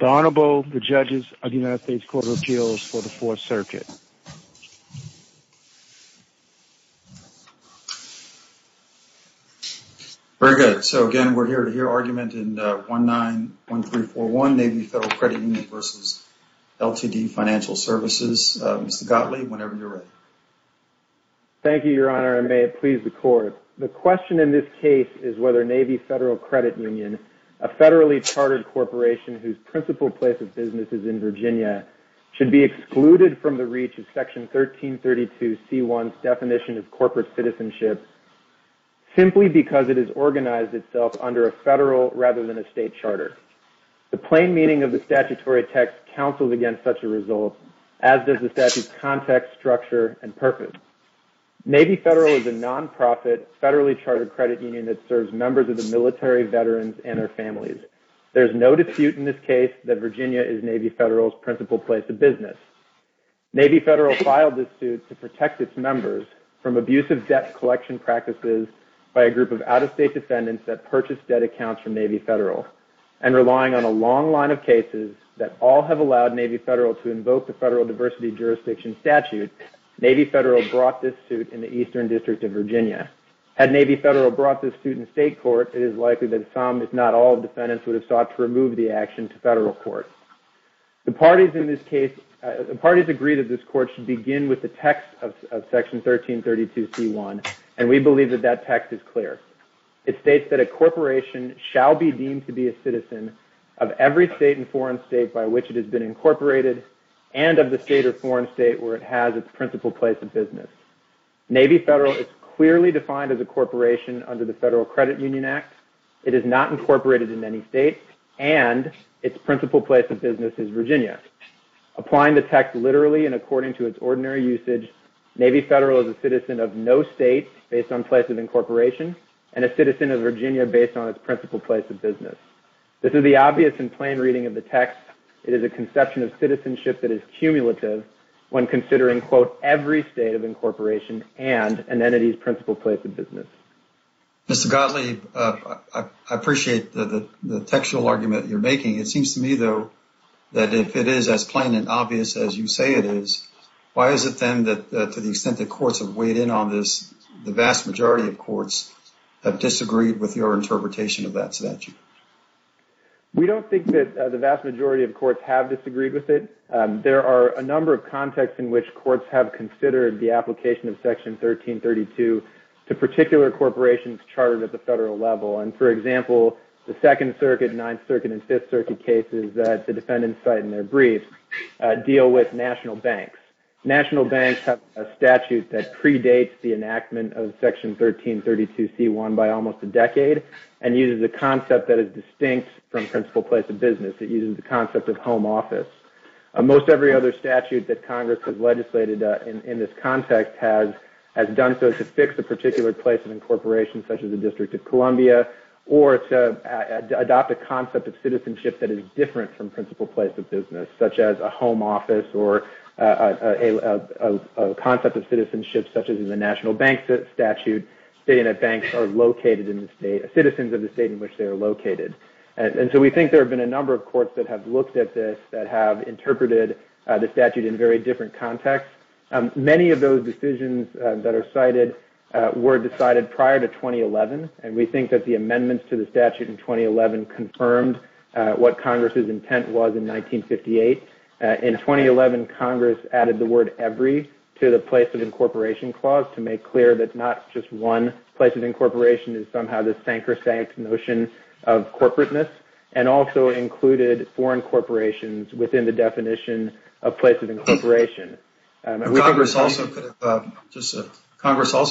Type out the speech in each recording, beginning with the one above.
The Honorable, the Judges of the United States Court of Appeals for the Fourth Circuit. Very good. So again, we're here to hear argument in 191341, Navy Federal Credit Union v. LTD Financial Services. Mr. Gottlieb, whenever you're ready. Thank you, Your Honor, and may it please the Court. The question in this case is whether Navy Federal Credit Union, a federally chartered corporation whose principal place of business is in Virginia, should be excluded from the reach of Section 1332C1's definition of corporate citizenship simply because it is organized itself under a federal rather than a state charter. The plain meaning of the statutory text counsels against such a result, as does the statute's context, structure, and purpose. Navy Federal is a nonprofit, federally chartered credit union that serves members of the military, veterans, and their families. There's no dispute in this case that Virginia is Navy Federal's principal place of business. Navy Federal filed this suit to protect its members from abusive debt collection practices by a group of out-of-state defendants that purchased debt accounts from Navy Federal. And relying on a long line of cases that all have allowed Navy Federal to invoke the federal diversity jurisdiction statute, Navy Federal brought this suit in the Eastern District of Virginia. Had Navy Federal brought this suit in state court, it is likely that some, if not all, defendants would have sought to remove the action to federal court. The parties in this case, the parties agreed that this court should begin with the text of Section 1332C1, and we believe that that text is clear. It states that a corporation shall be deemed to be a citizen of every state and foreign state by which it has been incorporated, and of the state or foreign state where it has its principal place of business. Navy Federal is clearly defined as a corporation under the Federal Credit Union Act. It is not incorporated in any state, and its principal place of business is Virginia. Applying the text literally and according to its ordinary usage, Navy Federal is a citizen of no state based on place of incorporation, and a citizen of Virginia based on its principal place of business. This is the obvious and plain reading of the text. It is a conception of citizenship that is cumulative when considering, quote, every state of incorporation and an entity's principal place of business. Mr. Gottlieb, I appreciate the textual argument you're making. It seems to me, though, that if it is as plain and obvious as you say it is, why is it then that to the extent that courts have weighed in on this, the vast majority of courts have disagreed with your interpretation of that statute? We don't think that the vast majority of courts have disagreed with it. There are a number of contexts in which courts have considered the application of Section 1332 to particular corporations chartered at the federal level. For example, the Second Circuit, Ninth Circuit, and Fifth Circuit cases that the defendants cite in their briefs deal with national banks. National banks have a statute that predates the enactment of Section 1332C1 by almost a decade and uses a concept that is distinct from principal place of business. It uses the concept of home office. Most every other statute that Congress has legislated in this context has done so to fix a particular place of incorporation, such as the District of Columbia, or to adopt a concept of citizenship that is different from principal place of business, such as a home office or a concept of citizenship, such as in the national bank statute, stating that banks are located in the state, citizens of the state in which they are located. We think there have been a number of courts that have looked at this that have interpreted the statute in very different contexts. Many of those decisions that are cited were decided prior to 2011, and we think that the amendments to the statute in 2011 confirmed what Congress's intent was in 1958. In 2011, Congress added the word every to the place of incorporation clause to make clear that not just one place of incorporation is somehow the sank or sank notion of corporateness, and also included foreign corporations within the definition of place of incorporation. Congress also,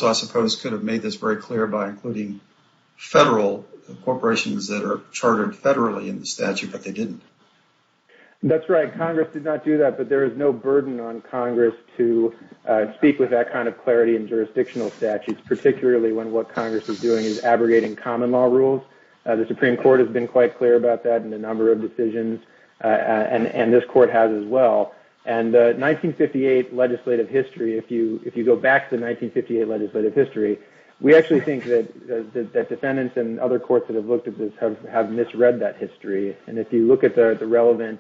I suppose, could have made this very clear by including federal corporations that are chartered federally in the statute, but they didn't. That's right. Congress did not do that, but there is no burden on Congress to speak with that kind of clarity in jurisdictional statutes, particularly when what Congress is doing is abrogating common law rules. The Supreme Court has been quite clear about that in a number of decisions, and this court has as well. The 1958 legislative history, if you go back to the 1958 legislative history, we actually think that defendants and other courts that have looked at this have misread that history. If you look at the relevant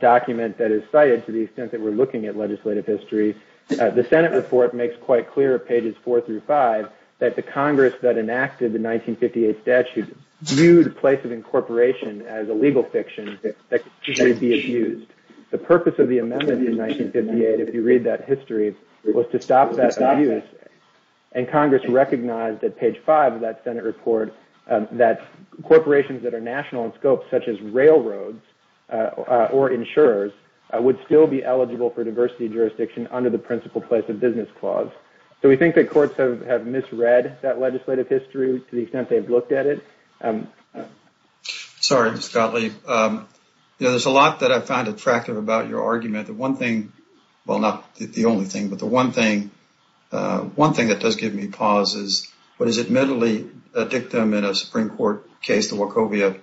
document that is cited, to the extent that we're looking at legislative history, the Senate report makes quite clear, pages 4 through 5, that the Congress that enacted the 1958 statute viewed place of incorporation as a legal fiction that could be abused. The purpose of the amendment in 1958, if you read that history, was to stop that abuse, and Congress recognized at page 5 of that Senate report that corporations that are national in scope, such as railroads or insurers, would still be eligible for diversity jurisdiction under the principal place of business clause. We think that courts have misread that legislative history to the extent they've looked at it. Sorry, Mr. Gottlieb. There's a lot that I found attractive about your argument. The one thing, well, not the only thing, but the one thing that does give me pause is what is admittedly a dictum in a Supreme Court case, the Wachovia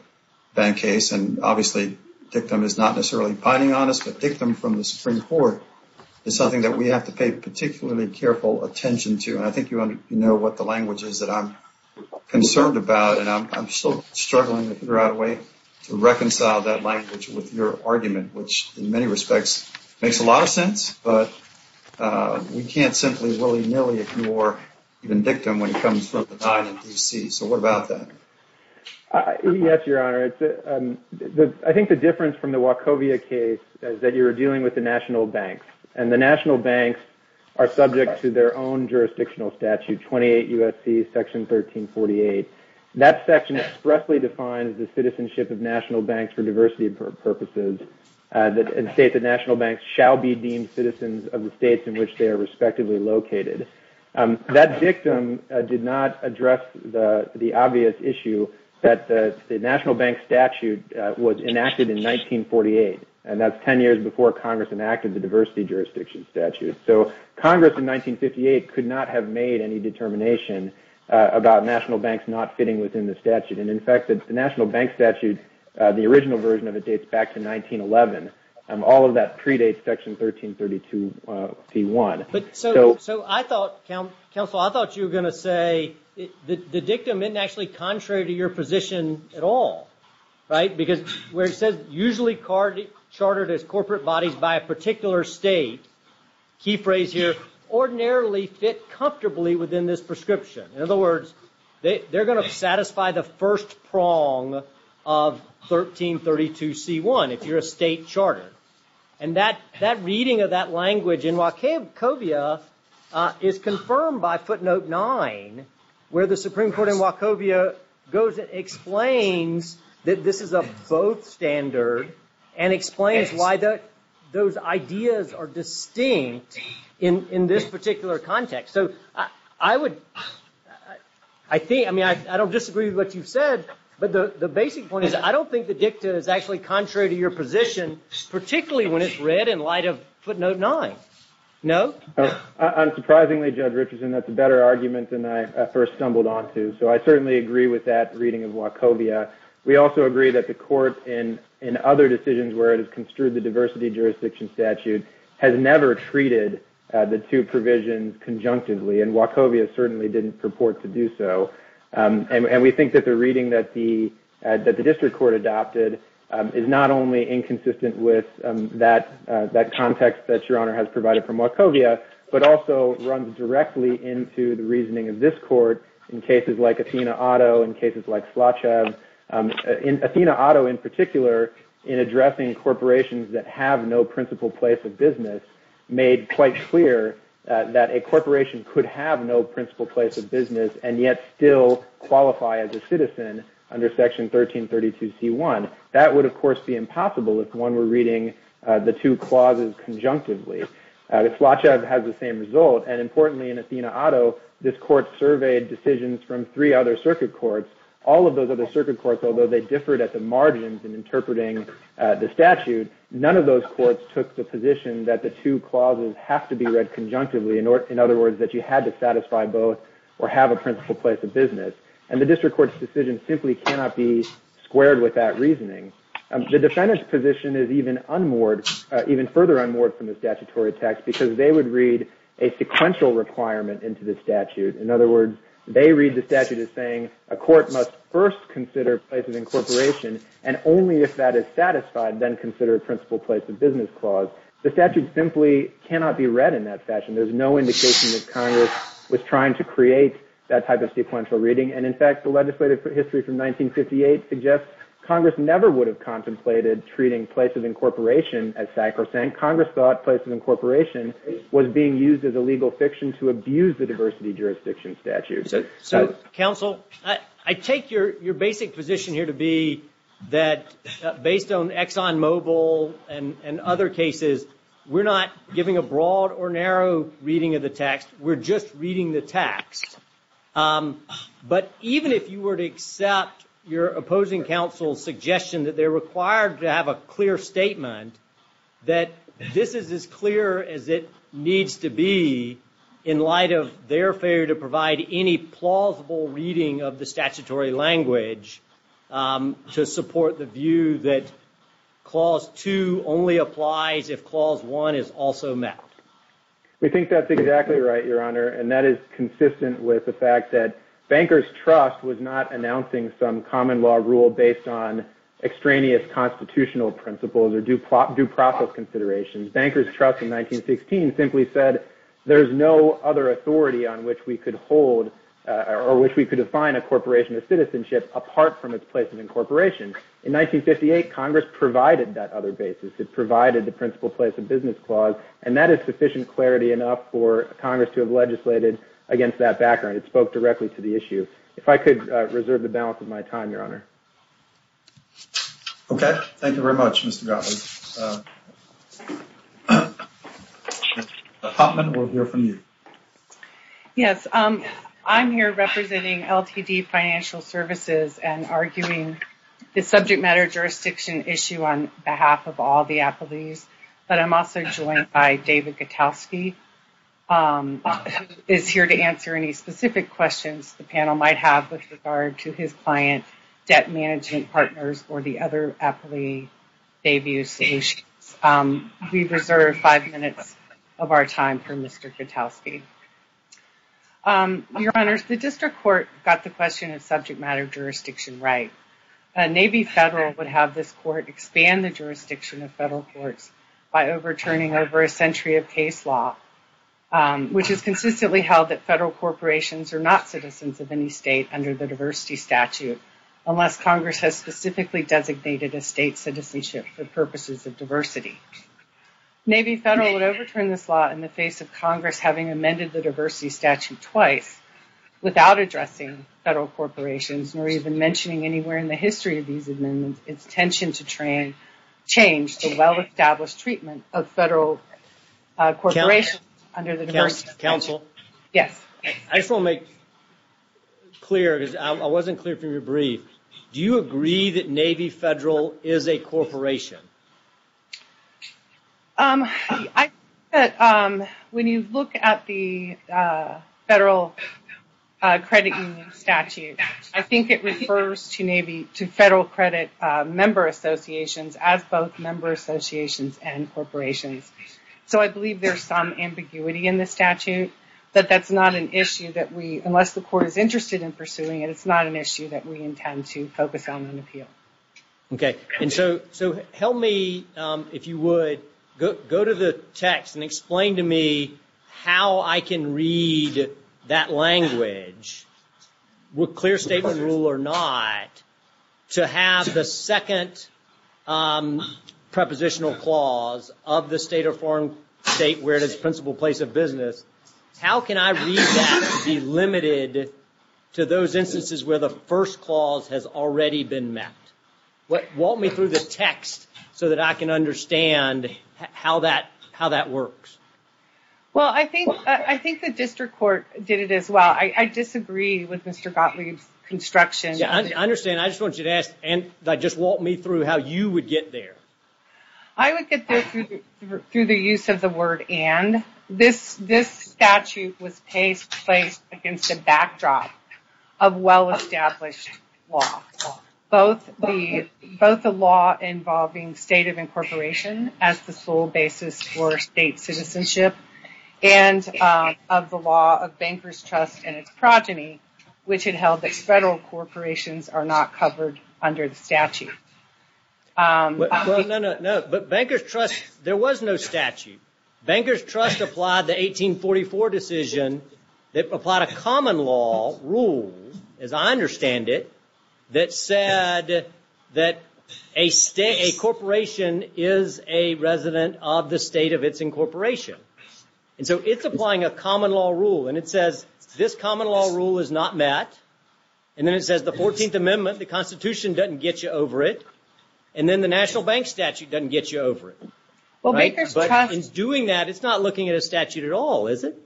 bank case. Obviously, dictum is not necessarily binding on us, but dictum from the Supreme Court is something that we have to pay particularly careful attention to. I think you know what the language is that I'm concerned about, and I'm still struggling to figure out a way to reconcile that language with your argument, which, in many respects, makes a lot of sense, but we can't simply willy-nilly if you are even dictum when it comes from the 9 in D.C. So what about that? Yes, Your Honor. I think the difference from the Wachovia case is that you're dealing with the national banks, and the national banks are subject to their own jurisdictional statute, 28 U.S.C. Section 1348. That section expressly defines the citizenship of national banks for diversity purposes and states that national banks shall be deemed citizens of the states in which they are respectively located. That dictum did not address the obvious issue that the national bank statute was enacted in 1948, and that's 10 years before Congress enacted the diversity jurisdiction statute. So Congress in 1958 could not have made any determination about national banks not fitting within the statute, and, in fact, the national bank statute, the original version of it dates back to 1911. All of that predates Section 1332. So, Counsel, I thought you were going to say the dictum isn't actually contrary to your position at all, right? Because where it says, usually chartered as corporate bodies by a particular state, key phrase here, ordinarily fit comfortably within this prescription. In other words, they're going to satisfy the first prong of 1332C1 if you're a state charter. And that reading of that language in Wachovia is confirmed by footnote 9 where the Supreme Court in Wachovia goes and explains that this is a both standard and explains why those ideas are distinct in this particular context. So I don't disagree with what you've said, but the basic point is I don't think the dictum is actually contrary to your position, particularly when it's read in light of footnote 9. No? Unsurprisingly, Judge Richardson, that's a better argument than I first stumbled onto. So I certainly agree with that reading of Wachovia. We also agree that the court in other decisions where it has construed the diversity jurisdiction statute has never treated the two provisions conjunctively, and Wachovia certainly didn't purport to do so. And we think that the reading that the district court adopted is not only inconsistent with that context that Your Honor has provided from Wachovia, but also runs directly into the reasoning of this court in cases like Athena-Otto and cases like Slotchev. Athena-Otto, in particular, in addressing corporations that have no principal place of business, made quite clear that a corporation could have no principal place of business and yet still qualify as a citizen under Section 1332C1. That would, of course, be impossible if one were reading the two clauses conjunctively. Slotchev has the same result. And importantly, in Athena-Otto, this court surveyed decisions from three other circuit courts. All of those other circuit courts, although they differed at the margins in interpreting the statute, none of those courts took the position that the two clauses have to be read conjunctively. In other words, that you had to satisfy both or have a principal place of business. And the district court's decision simply cannot be squared with that reasoning. The defendant's position is even further unmoored from the statutory text because they would read a sequential requirement into the statute. In other words, they read the statute as saying a court must first consider place of incorporation, and only if that is satisfied, then consider a principal place of business clause. The statute simply cannot be read in that fashion. There's no indication that Congress was trying to create that type of sequential reading. And in fact, the legislative history from 1958 suggests Congress never would have contemplated treating place of incorporation as sacrosanct. Congress thought place of incorporation was being used as a legal fiction to abuse the diversity jurisdiction statute. So, counsel, I take your basic position here to be that based on Exxon Mobil and other cases, we're not giving a broad or narrow reading of the text. We're just reading the text. But even if you were to accept your opposing counsel's suggestion that they're required to have a clear statement, that this is as clear as it needs to be in light of their failure to provide any plausible reading of the statutory language to support the view that Clause 2 only applies if Clause 1 is also met. We think that's exactly right, Your Honor. And that is consistent with the fact that Banker's Trust was not announcing some common law rule based on extraneous constitutional principles or due process considerations. Banker's Trust in 1916 simply said there's no other authority on which we could hold or which we could define a corporation of citizenship apart from its place of incorporation. In 1958, Congress provided that other basis. It provided the principal place of business clause. And that is sufficient clarity enough for Congress to have legislated against that background. It spoke directly to the issue. If I could reserve the balance of my time, Your Honor. Okay. Thank you very much, Mr. Gottlieb. Ms. Hoffman, we'll hear from you. Yes. I'm here representing LTD Financial Services and arguing the subject matter jurisdiction issue on behalf of all the appellees. But I'm also joined by David Gutowski, who is here to answer any specific questions the panel might have with regard to his client debt management partners or the other appellee debut solutions. We reserve five minutes of our time for Mr. Gutowski. Your Honors, the district court got the question of subject matter jurisdiction right. A Navy federal would have this court expand the jurisdiction of federal courts by overturning over a century of case law, which is consistently held that federal corporations are not citizens of any state under the diversity statute, unless Congress has specifically designated a state citizenship for purposes of diversity. Navy federal would overturn this law in the face of Congress having amended the diversity statute twice without addressing federal corporations nor even mentioning anywhere in the history of these amendments its intention to change the well-established treatment of federal corporations under the diversity statute. Counsel? Yes. I just want to make clear, because I wasn't clear from your brief. Do you agree that Navy federal is a corporation? I think that when you look at the federal credit union statute, I think it refers to federal credit member associations as both member associations and corporations. So I believe there's some ambiguity in the statute, but that's not an issue that we, unless the court is interested in pursuing it, it's not an issue that we intend to focus on and appeal. Okay. And so help me, if you would, go to the text and explain to me how I can read that language, with clear statement rule or not, to have the second prepositional clause of the state or foreign state where it is principal place of business. How can I read that and be limited to those instances where the first clause has already been met? Walk me through the text so that I can understand how that works. Well, I think the district court did it as well. I disagree with Mr. Gottlieb's construction. I understand. I just want you to walk me through how you would get there. I would get there through the use of the word and. This statute was placed against a backdrop of well-established law, both the law involving state of incorporation as the sole basis for state citizenship and of the law of bankers' trust and its progeny, which had held that federal corporations are not covered under the statute. Well, no, no, no. But bankers' trust, there was no statute. Bankers' trust applied the 1844 decision that applied a common law rule, as I understand it, that said that a corporation is a resident of the state of its incorporation. And so it's applying a common law rule. And it says this common law rule is not met. And then it says the 14th Amendment, the Constitution, doesn't get you over it. And then the National Bank Statute doesn't get you over it. But in doing that, it's not looking at a statute at all, is it?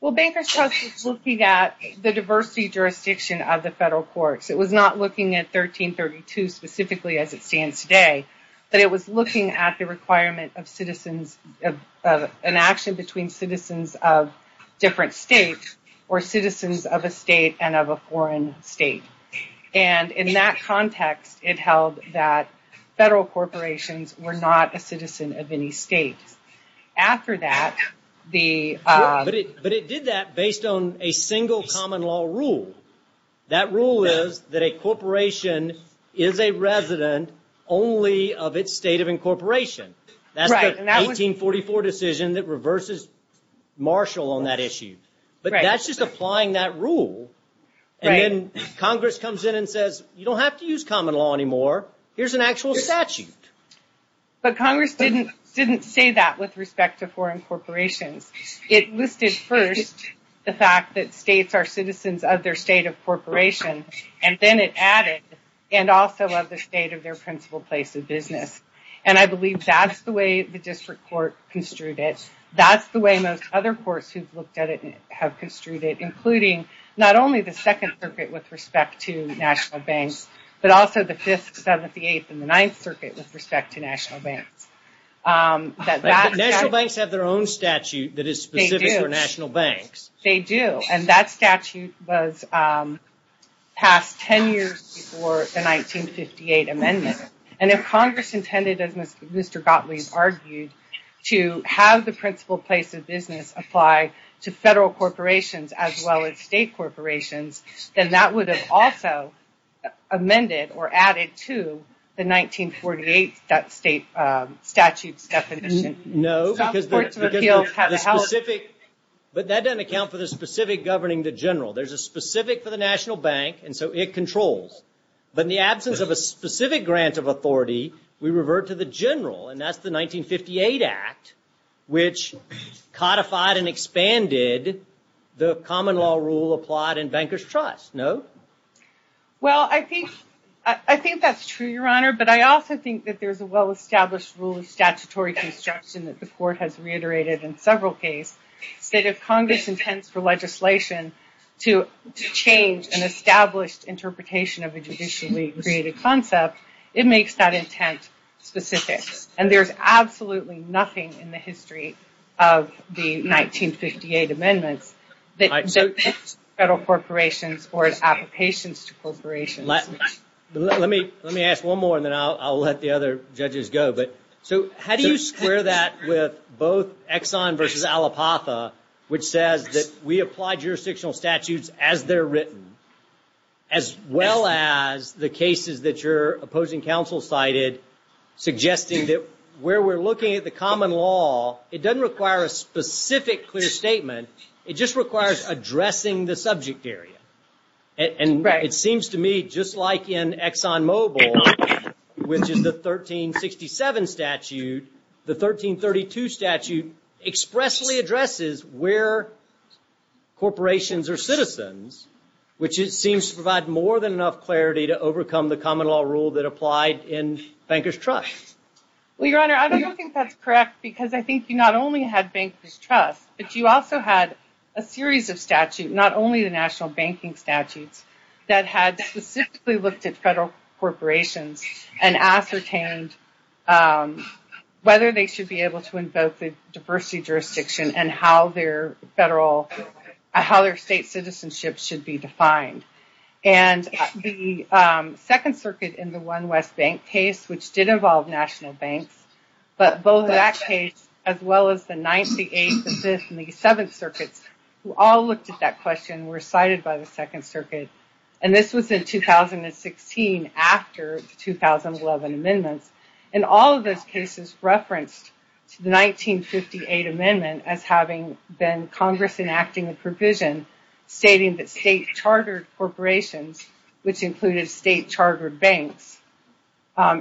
Well, bankers' trust is looking at the diversity jurisdiction of the federal courts. It was not looking at 1332 specifically as it stands today, but it was looking at the requirement of citizens of an action between citizens of different states or citizens of a state and of a foreign state. And in that context, it held that federal corporations were not a citizen of any state. But it did that based on a single common law rule. That rule is that a corporation is a resident only of its state of incorporation. That's the 1844 decision that reverses Marshall on that issue. But that's just applying that rule. And then Congress comes in and says, you don't have to use common law anymore. Here's an actual statute. But Congress didn't say that with respect to foreign corporations. It listed first the fact that states are citizens of their state of incorporation, and then it added, and also of the state of their principal place of business. And I believe that's the way the district court construed it. That's the way most other courts who've looked at it have construed it, including not only the Second Circuit with respect to national banks, but also the Fifth, Seventy-Eighth, and the Ninth Circuit with respect to national banks. National banks have their own statute that is specific for national banks. They do. And that statute was passed ten years before the 1958 amendment. And if Congress intended, as Mr. Gottlieb argued, to have the principal place of business apply to federal corporations as well as state corporations, then that would have also amended or added to the 1948 statute's definition. No, because that doesn't account for the specific governing the general. There's a specific for the national bank, and so it controls. But in the absence of a specific grant of authority, we revert to the general, and that's the 1958 Act, which codified and expanded the common law rule applied in bankers' trust, no? Well, I think that's true, Your Honor, but I also think that there's a well-established rule of statutory construction that the court has reiterated in several cases. If Congress intends for legislation to change an established interpretation of a judicially created concept, it makes that intent specific. And there's absolutely nothing in the history of the 1958 amendments that depicts federal corporations or its applications to corporations. Let me ask one more, and then I'll let the other judges go. So how do you square that with both Exxon v. Allapotha, which says that we apply jurisdictional statutes as they're written, as well as the cases that your opposing counsel cited, suggesting that where we're looking at the common law, it doesn't require a specific clear statement. It just requires addressing the subject area. And it seems to me, just like in Exxon Mobil, which is the 1367 statute, the 1332 statute expressly addresses where corporations are citizens, which seems to provide more than enough clarity to overcome the common law rule that applied in bankers' trust. Well, Your Honor, I don't think that's correct, because I think you not only had bankers' trust, but you also had a series of statutes, not only the national banking statutes, that had specifically looked at federal corporations and ascertained whether they should be able to invoke the diversity jurisdiction and how their state citizenship should be defined. And the Second Circuit in the One West Bank case, which did involve national banks, but both that case, as well as the Ninth, the Eighth, the Fifth, and the Seventh Circuits, who all looked at that question, were cited by the Second Circuit. And this was in 2016, after the 2011 amendments. And all of those cases referenced the 1958 amendment as having been Congress enacting a provision stating that state-chartered corporations, which included state-chartered banks,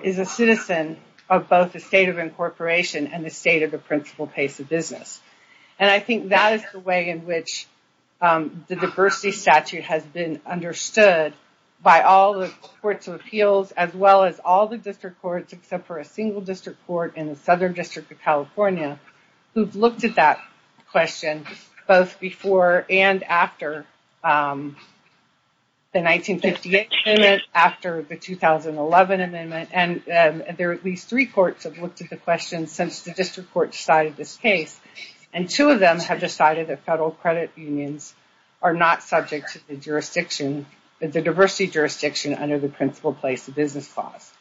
is a citizen of both the state of incorporation and the state of the principal pace of business. And I think that is the way in which the diversity statute has been understood by all the courts of appeals, as well as all the district courts, except for a single district court in the Southern District of California, who have looked at that question both before and after the 1958 amendment, after the 2011 amendment, and there are at least three courts that have looked at the question since the district court decided this case. And two of them have decided that federal credit unions are not subject to the diversity jurisdiction under the principal place of business clause.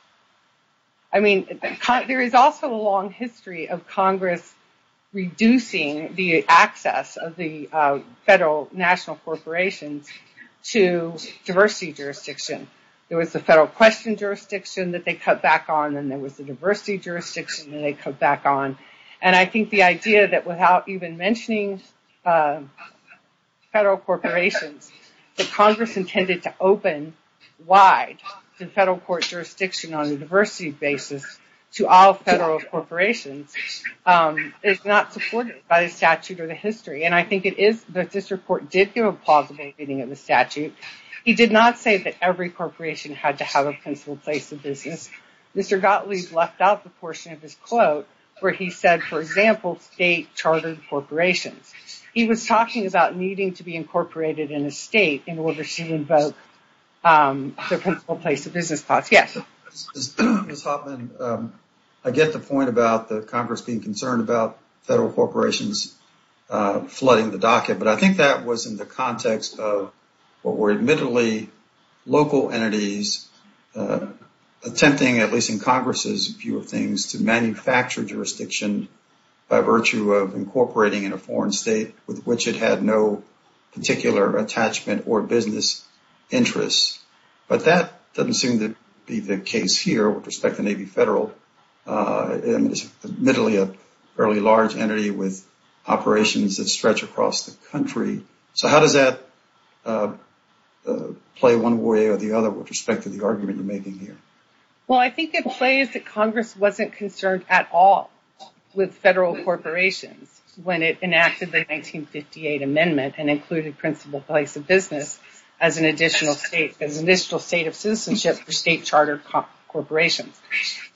I mean, there is also a long history of Congress reducing the access of the federal national corporations to diversity jurisdiction. There was the federal question jurisdiction that they cut back on, and there was the diversity jurisdiction that they cut back on. And I think the idea that without even mentioning federal corporations, that Congress intended to open wide the federal court jurisdiction on a diversity basis to all federal corporations is not supported by the statute or the history. And I think it is that district court did give a positive opinion of the statute. He did not say that every corporation had to have a principal place of business. Mr. Gottlieb left out the portion of his quote where he said, for example, state-chartered corporations. He was talking about needing to be incorporated in a state in order to invoke the principal place of business clause. Yes? Ms. Hoffman, I get the point about the Congress being concerned about federal corporations flooding the docket, but I think that was in the context of what were admittedly local entities attempting, at least in Congress's view of things, to manufacture jurisdiction by virtue of incorporating in a foreign state with which it had no particular attachment or business interests. But that doesn't seem to be the case here with respect to Navy Federal. It's admittedly a fairly large entity with operations that stretch across the country. So how does that play one way or the other with respect to the argument you're making here? Well, I think it plays that Congress wasn't concerned at all with federal corporations when it enacted the 1958 amendment and included principal place of business as an additional state of citizenship for state-chartered corporations.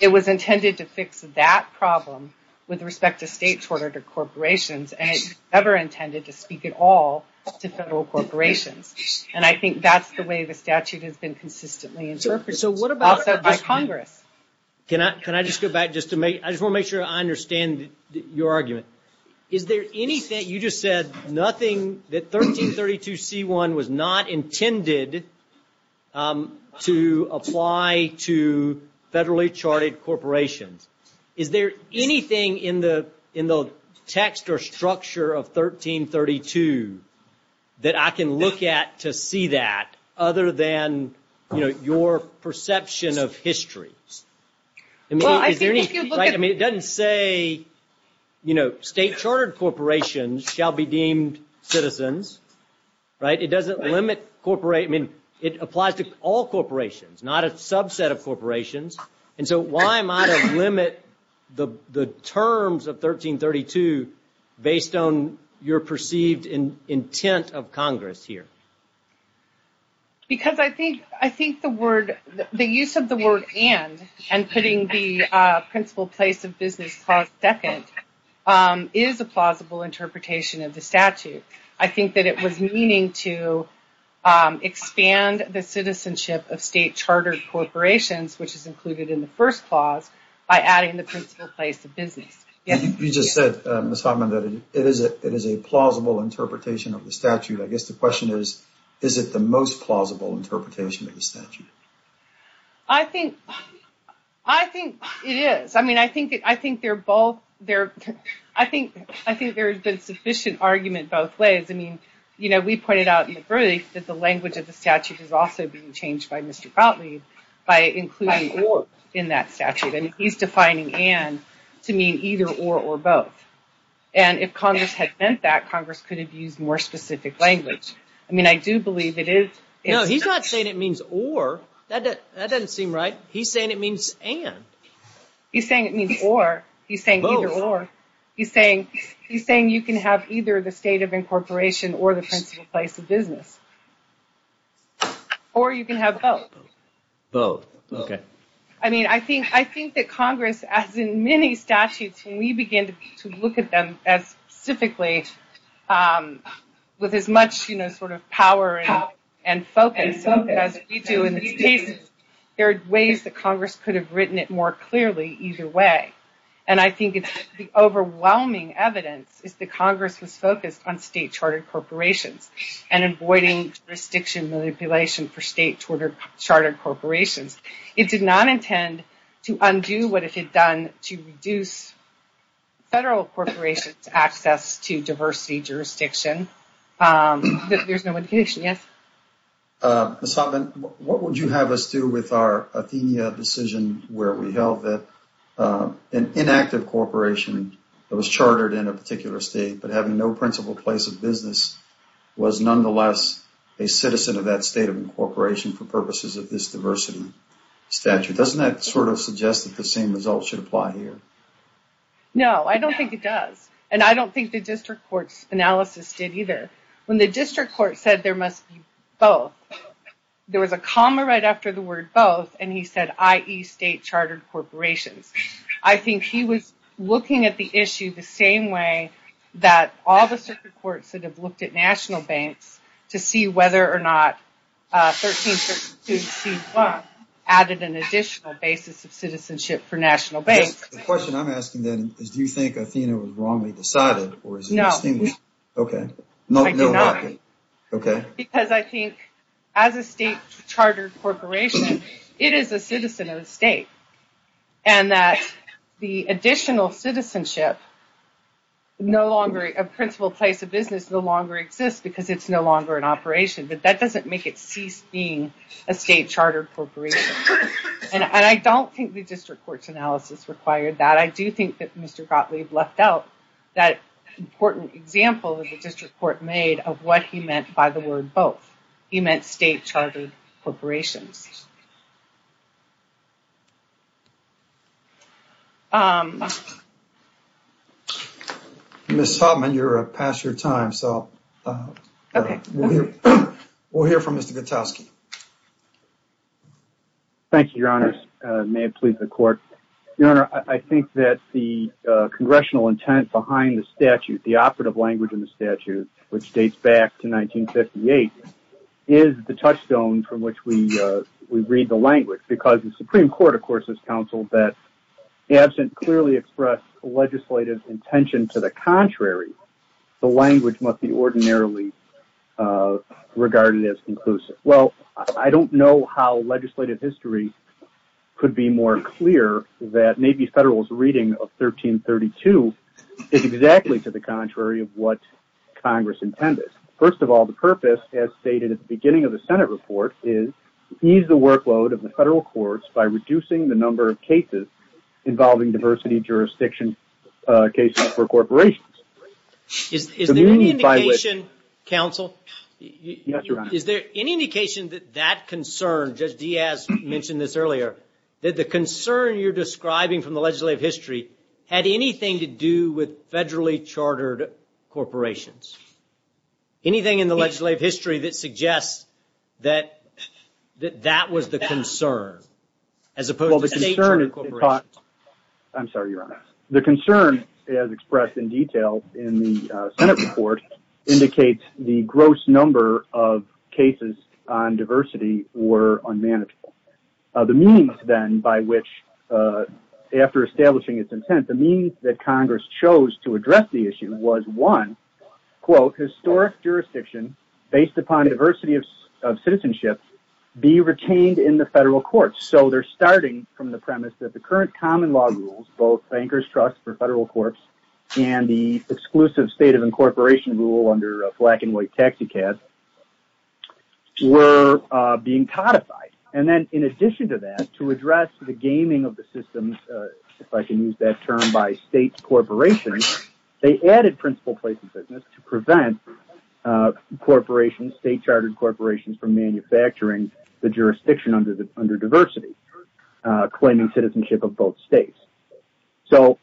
It was intended to fix that problem with respect to state-chartered corporations, and it never intended to speak at all to federal corporations. And I think that's the way the statute has been consistently interpreted. So what about Congress? Can I just go back just to make—I just want to make sure I understand your argument. Is there anything—you just said nothing that 1332c1 was not intended to apply to federally-charted corporations. Is there anything in the text or structure of 1332 that I can look at to see that, other than your perception of history? I mean, it doesn't say state-chartered corporations shall be deemed citizens, right? It doesn't limit—I mean, it applies to all corporations, not a subset of corporations. And so why might it limit the terms of 1332 based on your perceived intent of Congress here? Because I think the word—the use of the word and, and putting the principal place of business clause second, is a plausible interpretation of the statute. I think that it was meaning to expand the citizenship of state-chartered corporations, which is included in the first clause, by adding the principal place of business. You just said, Ms. Hoffman, that it is a plausible interpretation of the statute. I guess the question is, is it the most plausible interpretation of the statute? I think—I think it is. I mean, I think they're both—I think there's been sufficient argument both ways. I mean, you know, we pointed out in the brief that the language of the statute is also being changed by Mr. Gottlieb by including or in that statute. And he's defining and to mean either or or both. And if Congress had meant that, Congress could have used more specific language. I mean, I do believe it is— No, he's not saying it means or. That doesn't seem right. He's saying it means and. He's saying it means or. He's saying either or. He's saying you can have either the state of incorporation or the principal place of business. Or you can have both. Both. Okay. I mean, I think that Congress, as in many statutes, when we begin to look at them as specifically, with as much, you know, sort of power and focus as we do in this case, there are ways that Congress could have written it more clearly either way. And I think it's the overwhelming evidence is that Congress was focused on state chartered corporations and avoiding jurisdiction manipulation for state chartered corporations. It did not intend to undo what it had done to reduce federal corporations' access to diversity jurisdiction. There's no indication. Yes? Ms. Hoffman, what would you have us do with our Athenia decision where we held that an inactive corporation that was chartered in a particular state but having no principal place of business was nonetheless a citizen of that state of incorporation for purposes of this diversity statute? Doesn't that sort of suggest that the same result should apply here? No, I don't think it does. And I don't think the district court's analysis did either. When the district court said there must be both, there was a comma right after the word both, and he said, i.e., state chartered corporations. I think he was looking at the issue the same way that all the circuit courts that have looked at national banks to see whether or not 1332C1 added an additional basis of citizenship for national banks. The question I'm asking then is do you think Athenia was wrongly decided? No. Okay. I do not. Okay. Because I think as a state chartered corporation, it is a citizen of the state. And that the additional citizenship of principal place of business no longer exists because it's no longer in operation, but that doesn't make it cease being a state chartered corporation. And I don't think the district court's analysis required that. I do think that Mr. Gottlieb left out that important example that the district court made of what he meant by the word both. He meant state chartered corporations. Ms. Hoffman, you're past your time, so we'll hear from Mr. Gutowski. Thank you, Your Honors. May it please the Court. Your Honor, I think that the congressional intent behind the statute, the operative language in the statute, which dates back to 1958, is the touchstone from which we read the language. Because the Supreme Court, of course, has counseled that, absent clearly expressed legislative intention to the contrary, the language must be ordinarily regarded as conclusive. Well, I don't know how legislative history could be more clear that maybe federal's reading of 1332 is exactly to the contrary of what Congress intended. First of all, the purpose, as stated at the beginning of the Senate report, is ease the workload of the federal courts by reducing the number of cases involving diversity jurisdiction cases for corporations. Is there any indication, counsel? Yes, Your Honor. Is there any indication that that concern, Judge Diaz mentioned this earlier, that the concern you're describing from the legislative history had anything to do with federally chartered corporations? Anything in the legislative history that suggests that that was the concern, as opposed to state-chartered corporations? I'm sorry, Your Honor. The concern, as expressed in detail in the Senate report, indicates the gross number of cases on diversity were unmanageable. The means, then, by which, after establishing its intent, the means that Congress chose to address the issue was, one, quote, historic jurisdiction based upon diversity of citizenship be retained in the federal courts. So they're starting from the premise that the current common law rules, both bankers' trust for federal courts and the exclusive state of incorporation rule under a black and white taxicab, were being codified. And then, in addition to that, to address the gaming of the systems, if I can use that term, by state corporations, they added principal place in business to prevent corporations, state-chartered corporations from manufacturing the jurisdiction under diversity, claiming citizenship of both states. So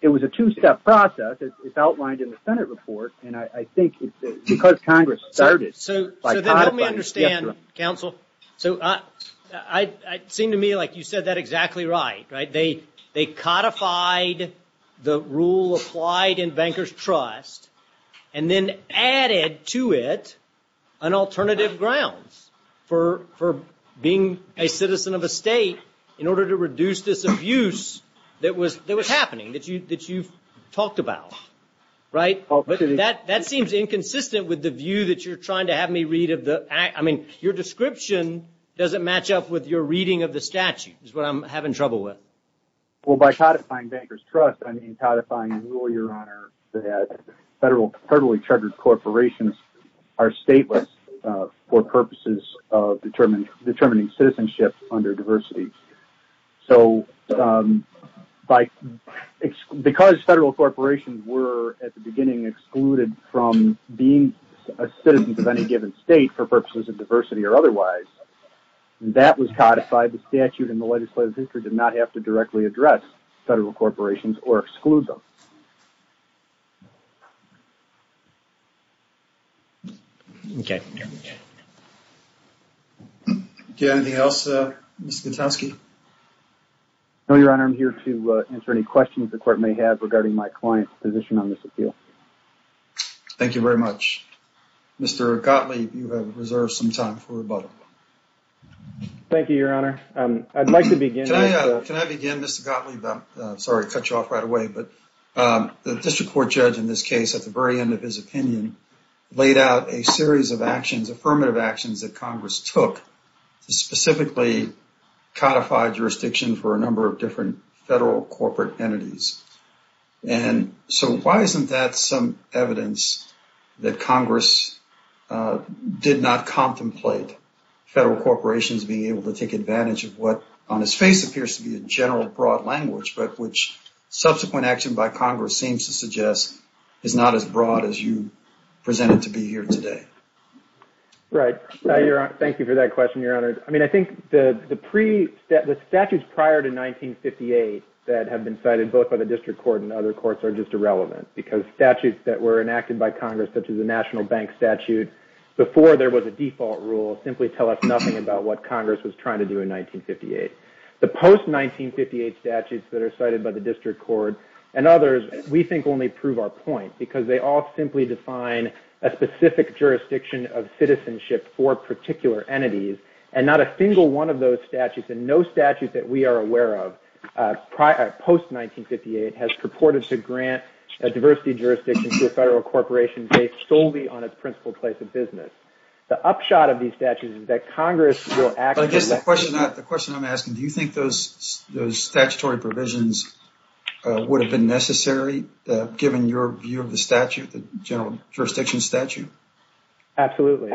it was a two-step process, as outlined in the Senate report, and I think it's because Congress started by codifying the federal. So then let me understand, counsel. So it seemed to me like you said that exactly right. They codified the rule applied in bankers' trust and then added to it an alternative grounds for being a citizen of a state in order to reduce this abuse that was happening, that you've talked about, right? But that seems inconsistent with the view that you're trying to have me read. Your description doesn't match up with your reading of the statute, is what I'm having trouble with. Well, by codifying bankers' trust, I mean codifying the rule, Your Honor, that federally-chartered corporations are stateless for purposes of determining citizenship under diversity. So because federal corporations were, at the beginning, excluded from being a citizen of any given state for purposes of diversity or otherwise, that was codified. The statute in the legislative history did not have to directly address federal corporations or exclude them. Okay. Do you have anything else, Mr. Gutowski? No, Your Honor. I'm here to answer any questions the Court may have regarding my client's position on this appeal. Thank you very much. Mr. Gottlieb, you have reserved some time for rebuttal. Thank you, Your Honor. I'd like to begin. Can I begin, Mr. Gottlieb? Sorry to cut you off right away, but the district court judge in this case, at the very end of his opinion, laid out a series of actions, affirmative actions that Congress took to specifically codify jurisdiction for a number of different federal corporate entities. And so why isn't that some evidence that Congress did not contemplate federal corporations being able to take advantage of what, on its face, appears to be a general, broad language, but which subsequent action by Congress seems to suggest is not as broad as you present it to be here today? Right. Thank you for that question, Your Honor. I think the statutes prior to 1958 that have been cited both by the district court and other courts are just irrelevant because statutes that were enacted by Congress, such as the National Bank Statute, before there was a default rule, simply tell us nothing about what Congress was trying to do in 1958. The post-1958 statutes that are cited by the district court and others, we think, only prove our point because they all simply define a specific jurisdiction of citizenship for particular entities, and not a single one of those statutes, and no statute that we are aware of post-1958, has purported to grant a diversity jurisdiction to a federal corporation based solely on its principal place of business. The upshot of these statutes is that Congress will actually The question I'm asking, do you think those statutory provisions would have been necessary given your view of the general jurisdiction statute? Absolutely.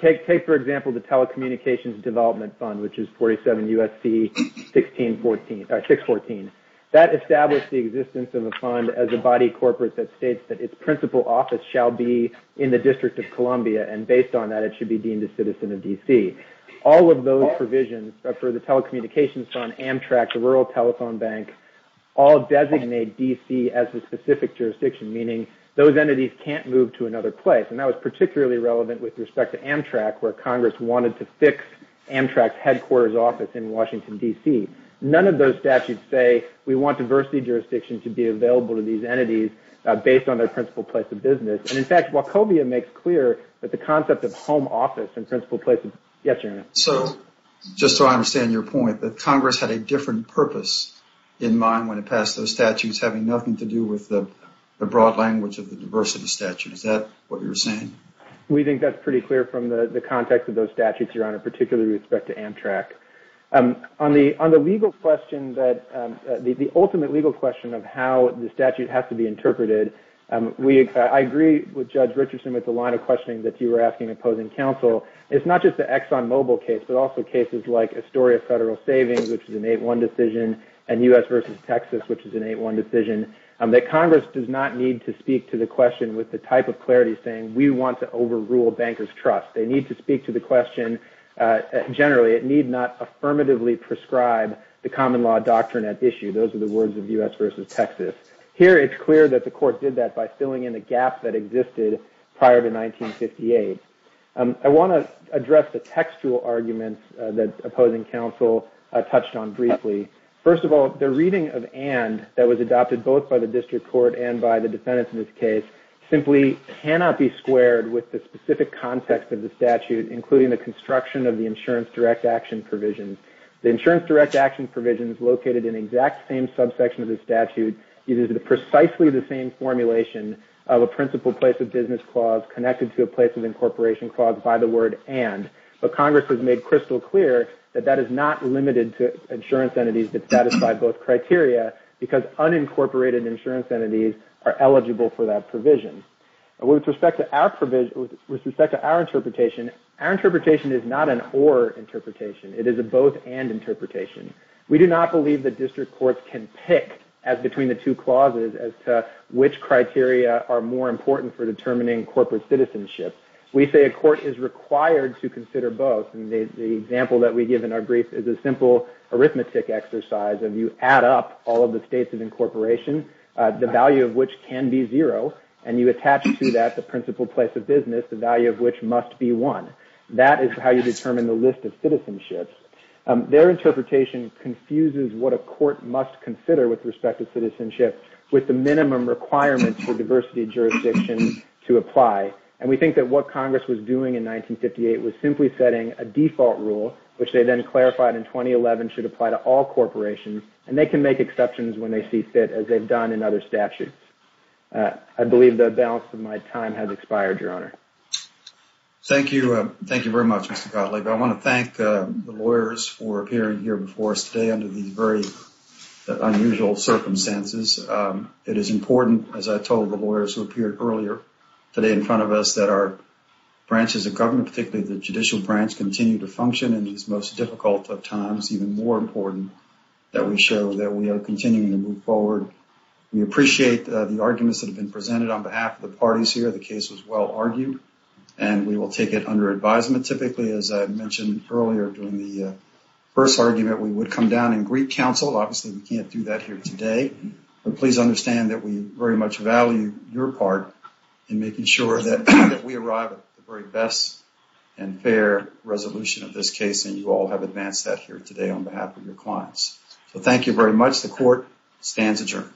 Take, for example, the Telecommunications Development Fund, which is 47 U.S.C. 614. That established the existence of a fund as a body corporate that states that its principal office shall be in the District of Columbia, and based on that, it should be deemed a citizen of D.C. All of those provisions for the Telecommunications Fund, Amtrak, the rural telephone bank, all designate D.C. as a specific jurisdiction, meaning those entities can't move to another place, and that was particularly relevant with respect to Amtrak, where Congress wanted to fix Amtrak's headquarters office in Washington, D.C. None of those statutes say we want diversity jurisdiction to be available to these entities based on their principal place of business. And, in fact, Wachovia makes clear that the concept of home office and principal place of business So, just so I understand your point, that Congress had a different purpose in mind when it passed those statutes, having nothing to do with the broad language of the diversity statute. Is that what you're saying? We think that's pretty clear from the context of those statutes, Your Honor, particularly with respect to Amtrak. On the legal question, the ultimate legal question of how the statute has to be interpreted, I agree with Judge Richardson with the line of questioning that you were asking opposing counsel. It's not just the Exxon Mobil case, but also cases like Astoria Federal Savings, which is an 8-1 decision, and U.S. v. Texas, which is an 8-1 decision, that Congress does not need to speak to the question with the type of clarity saying, we want to overrule bankers' trust. They need to speak to the question generally. It need not affirmatively prescribe the common law doctrine at issue. Those are the words of U.S. v. Texas. Here it's clear that the court did that by filling in the gap that existed prior to 1958. I want to address the textual arguments that opposing counsel touched on briefly. First of all, the reading of and that was adopted both by the district court and by the defendants in this case simply cannot be squared with the specific context of the statute, including the construction of the insurance direct action provisions. The insurance direct action provision is located in the exact same subsection of the statute. It is precisely the same formulation of a principal place of business clause connected to a place of incorporation clause by the word and. But Congress has made crystal clear that that is not limited to insurance entities that satisfy both criteria because unincorporated insurance entities are eligible for that provision. With respect to our interpretation, our interpretation is not an or interpretation. It is a both and interpretation. We do not believe that district courts can pick as between the two clauses as to which criteria are more important for determining corporate citizenship. We say a court is required to consider both. The example that we give in our brief is a simple arithmetic exercise of you add up all of the states of incorporation, the value of which can be zero, and you attach to that the principal place of business, the value of which must be one. That is how you determine the list of citizenships. Their interpretation confuses what a court must consider with respect to citizenship with the minimum requirements for diversity jurisdiction to apply. And we think that what Congress was doing in 1958 was simply setting a default rule, which they then clarified in 2011 should apply to all corporations, and they can make exceptions when they see fit as they've done in other statutes. I believe the balance of my time has expired, Your Honor. Thank you. Thank you very much, Mr. Gottlieb. I want to thank the lawyers for appearing here before us today under these very unusual circumstances. It is important, as I told the lawyers who appeared earlier today in front of us, that our branches of government, particularly the judicial branch, continue to function in these most difficult of times, even more important that we show that we are continuing to move forward. We appreciate the arguments that have been presented on behalf of the parties here. The case was well argued, and we will take it under advisement. Typically, as I mentioned earlier during the first argument, we would come down and greet counsel. Obviously, we can't do that here today. But please understand that we very much value your part in making sure that we arrive at the very best and fair resolution of this case, and you all have advanced that here today on behalf of your clients. So thank you very much. The court stands adjourned.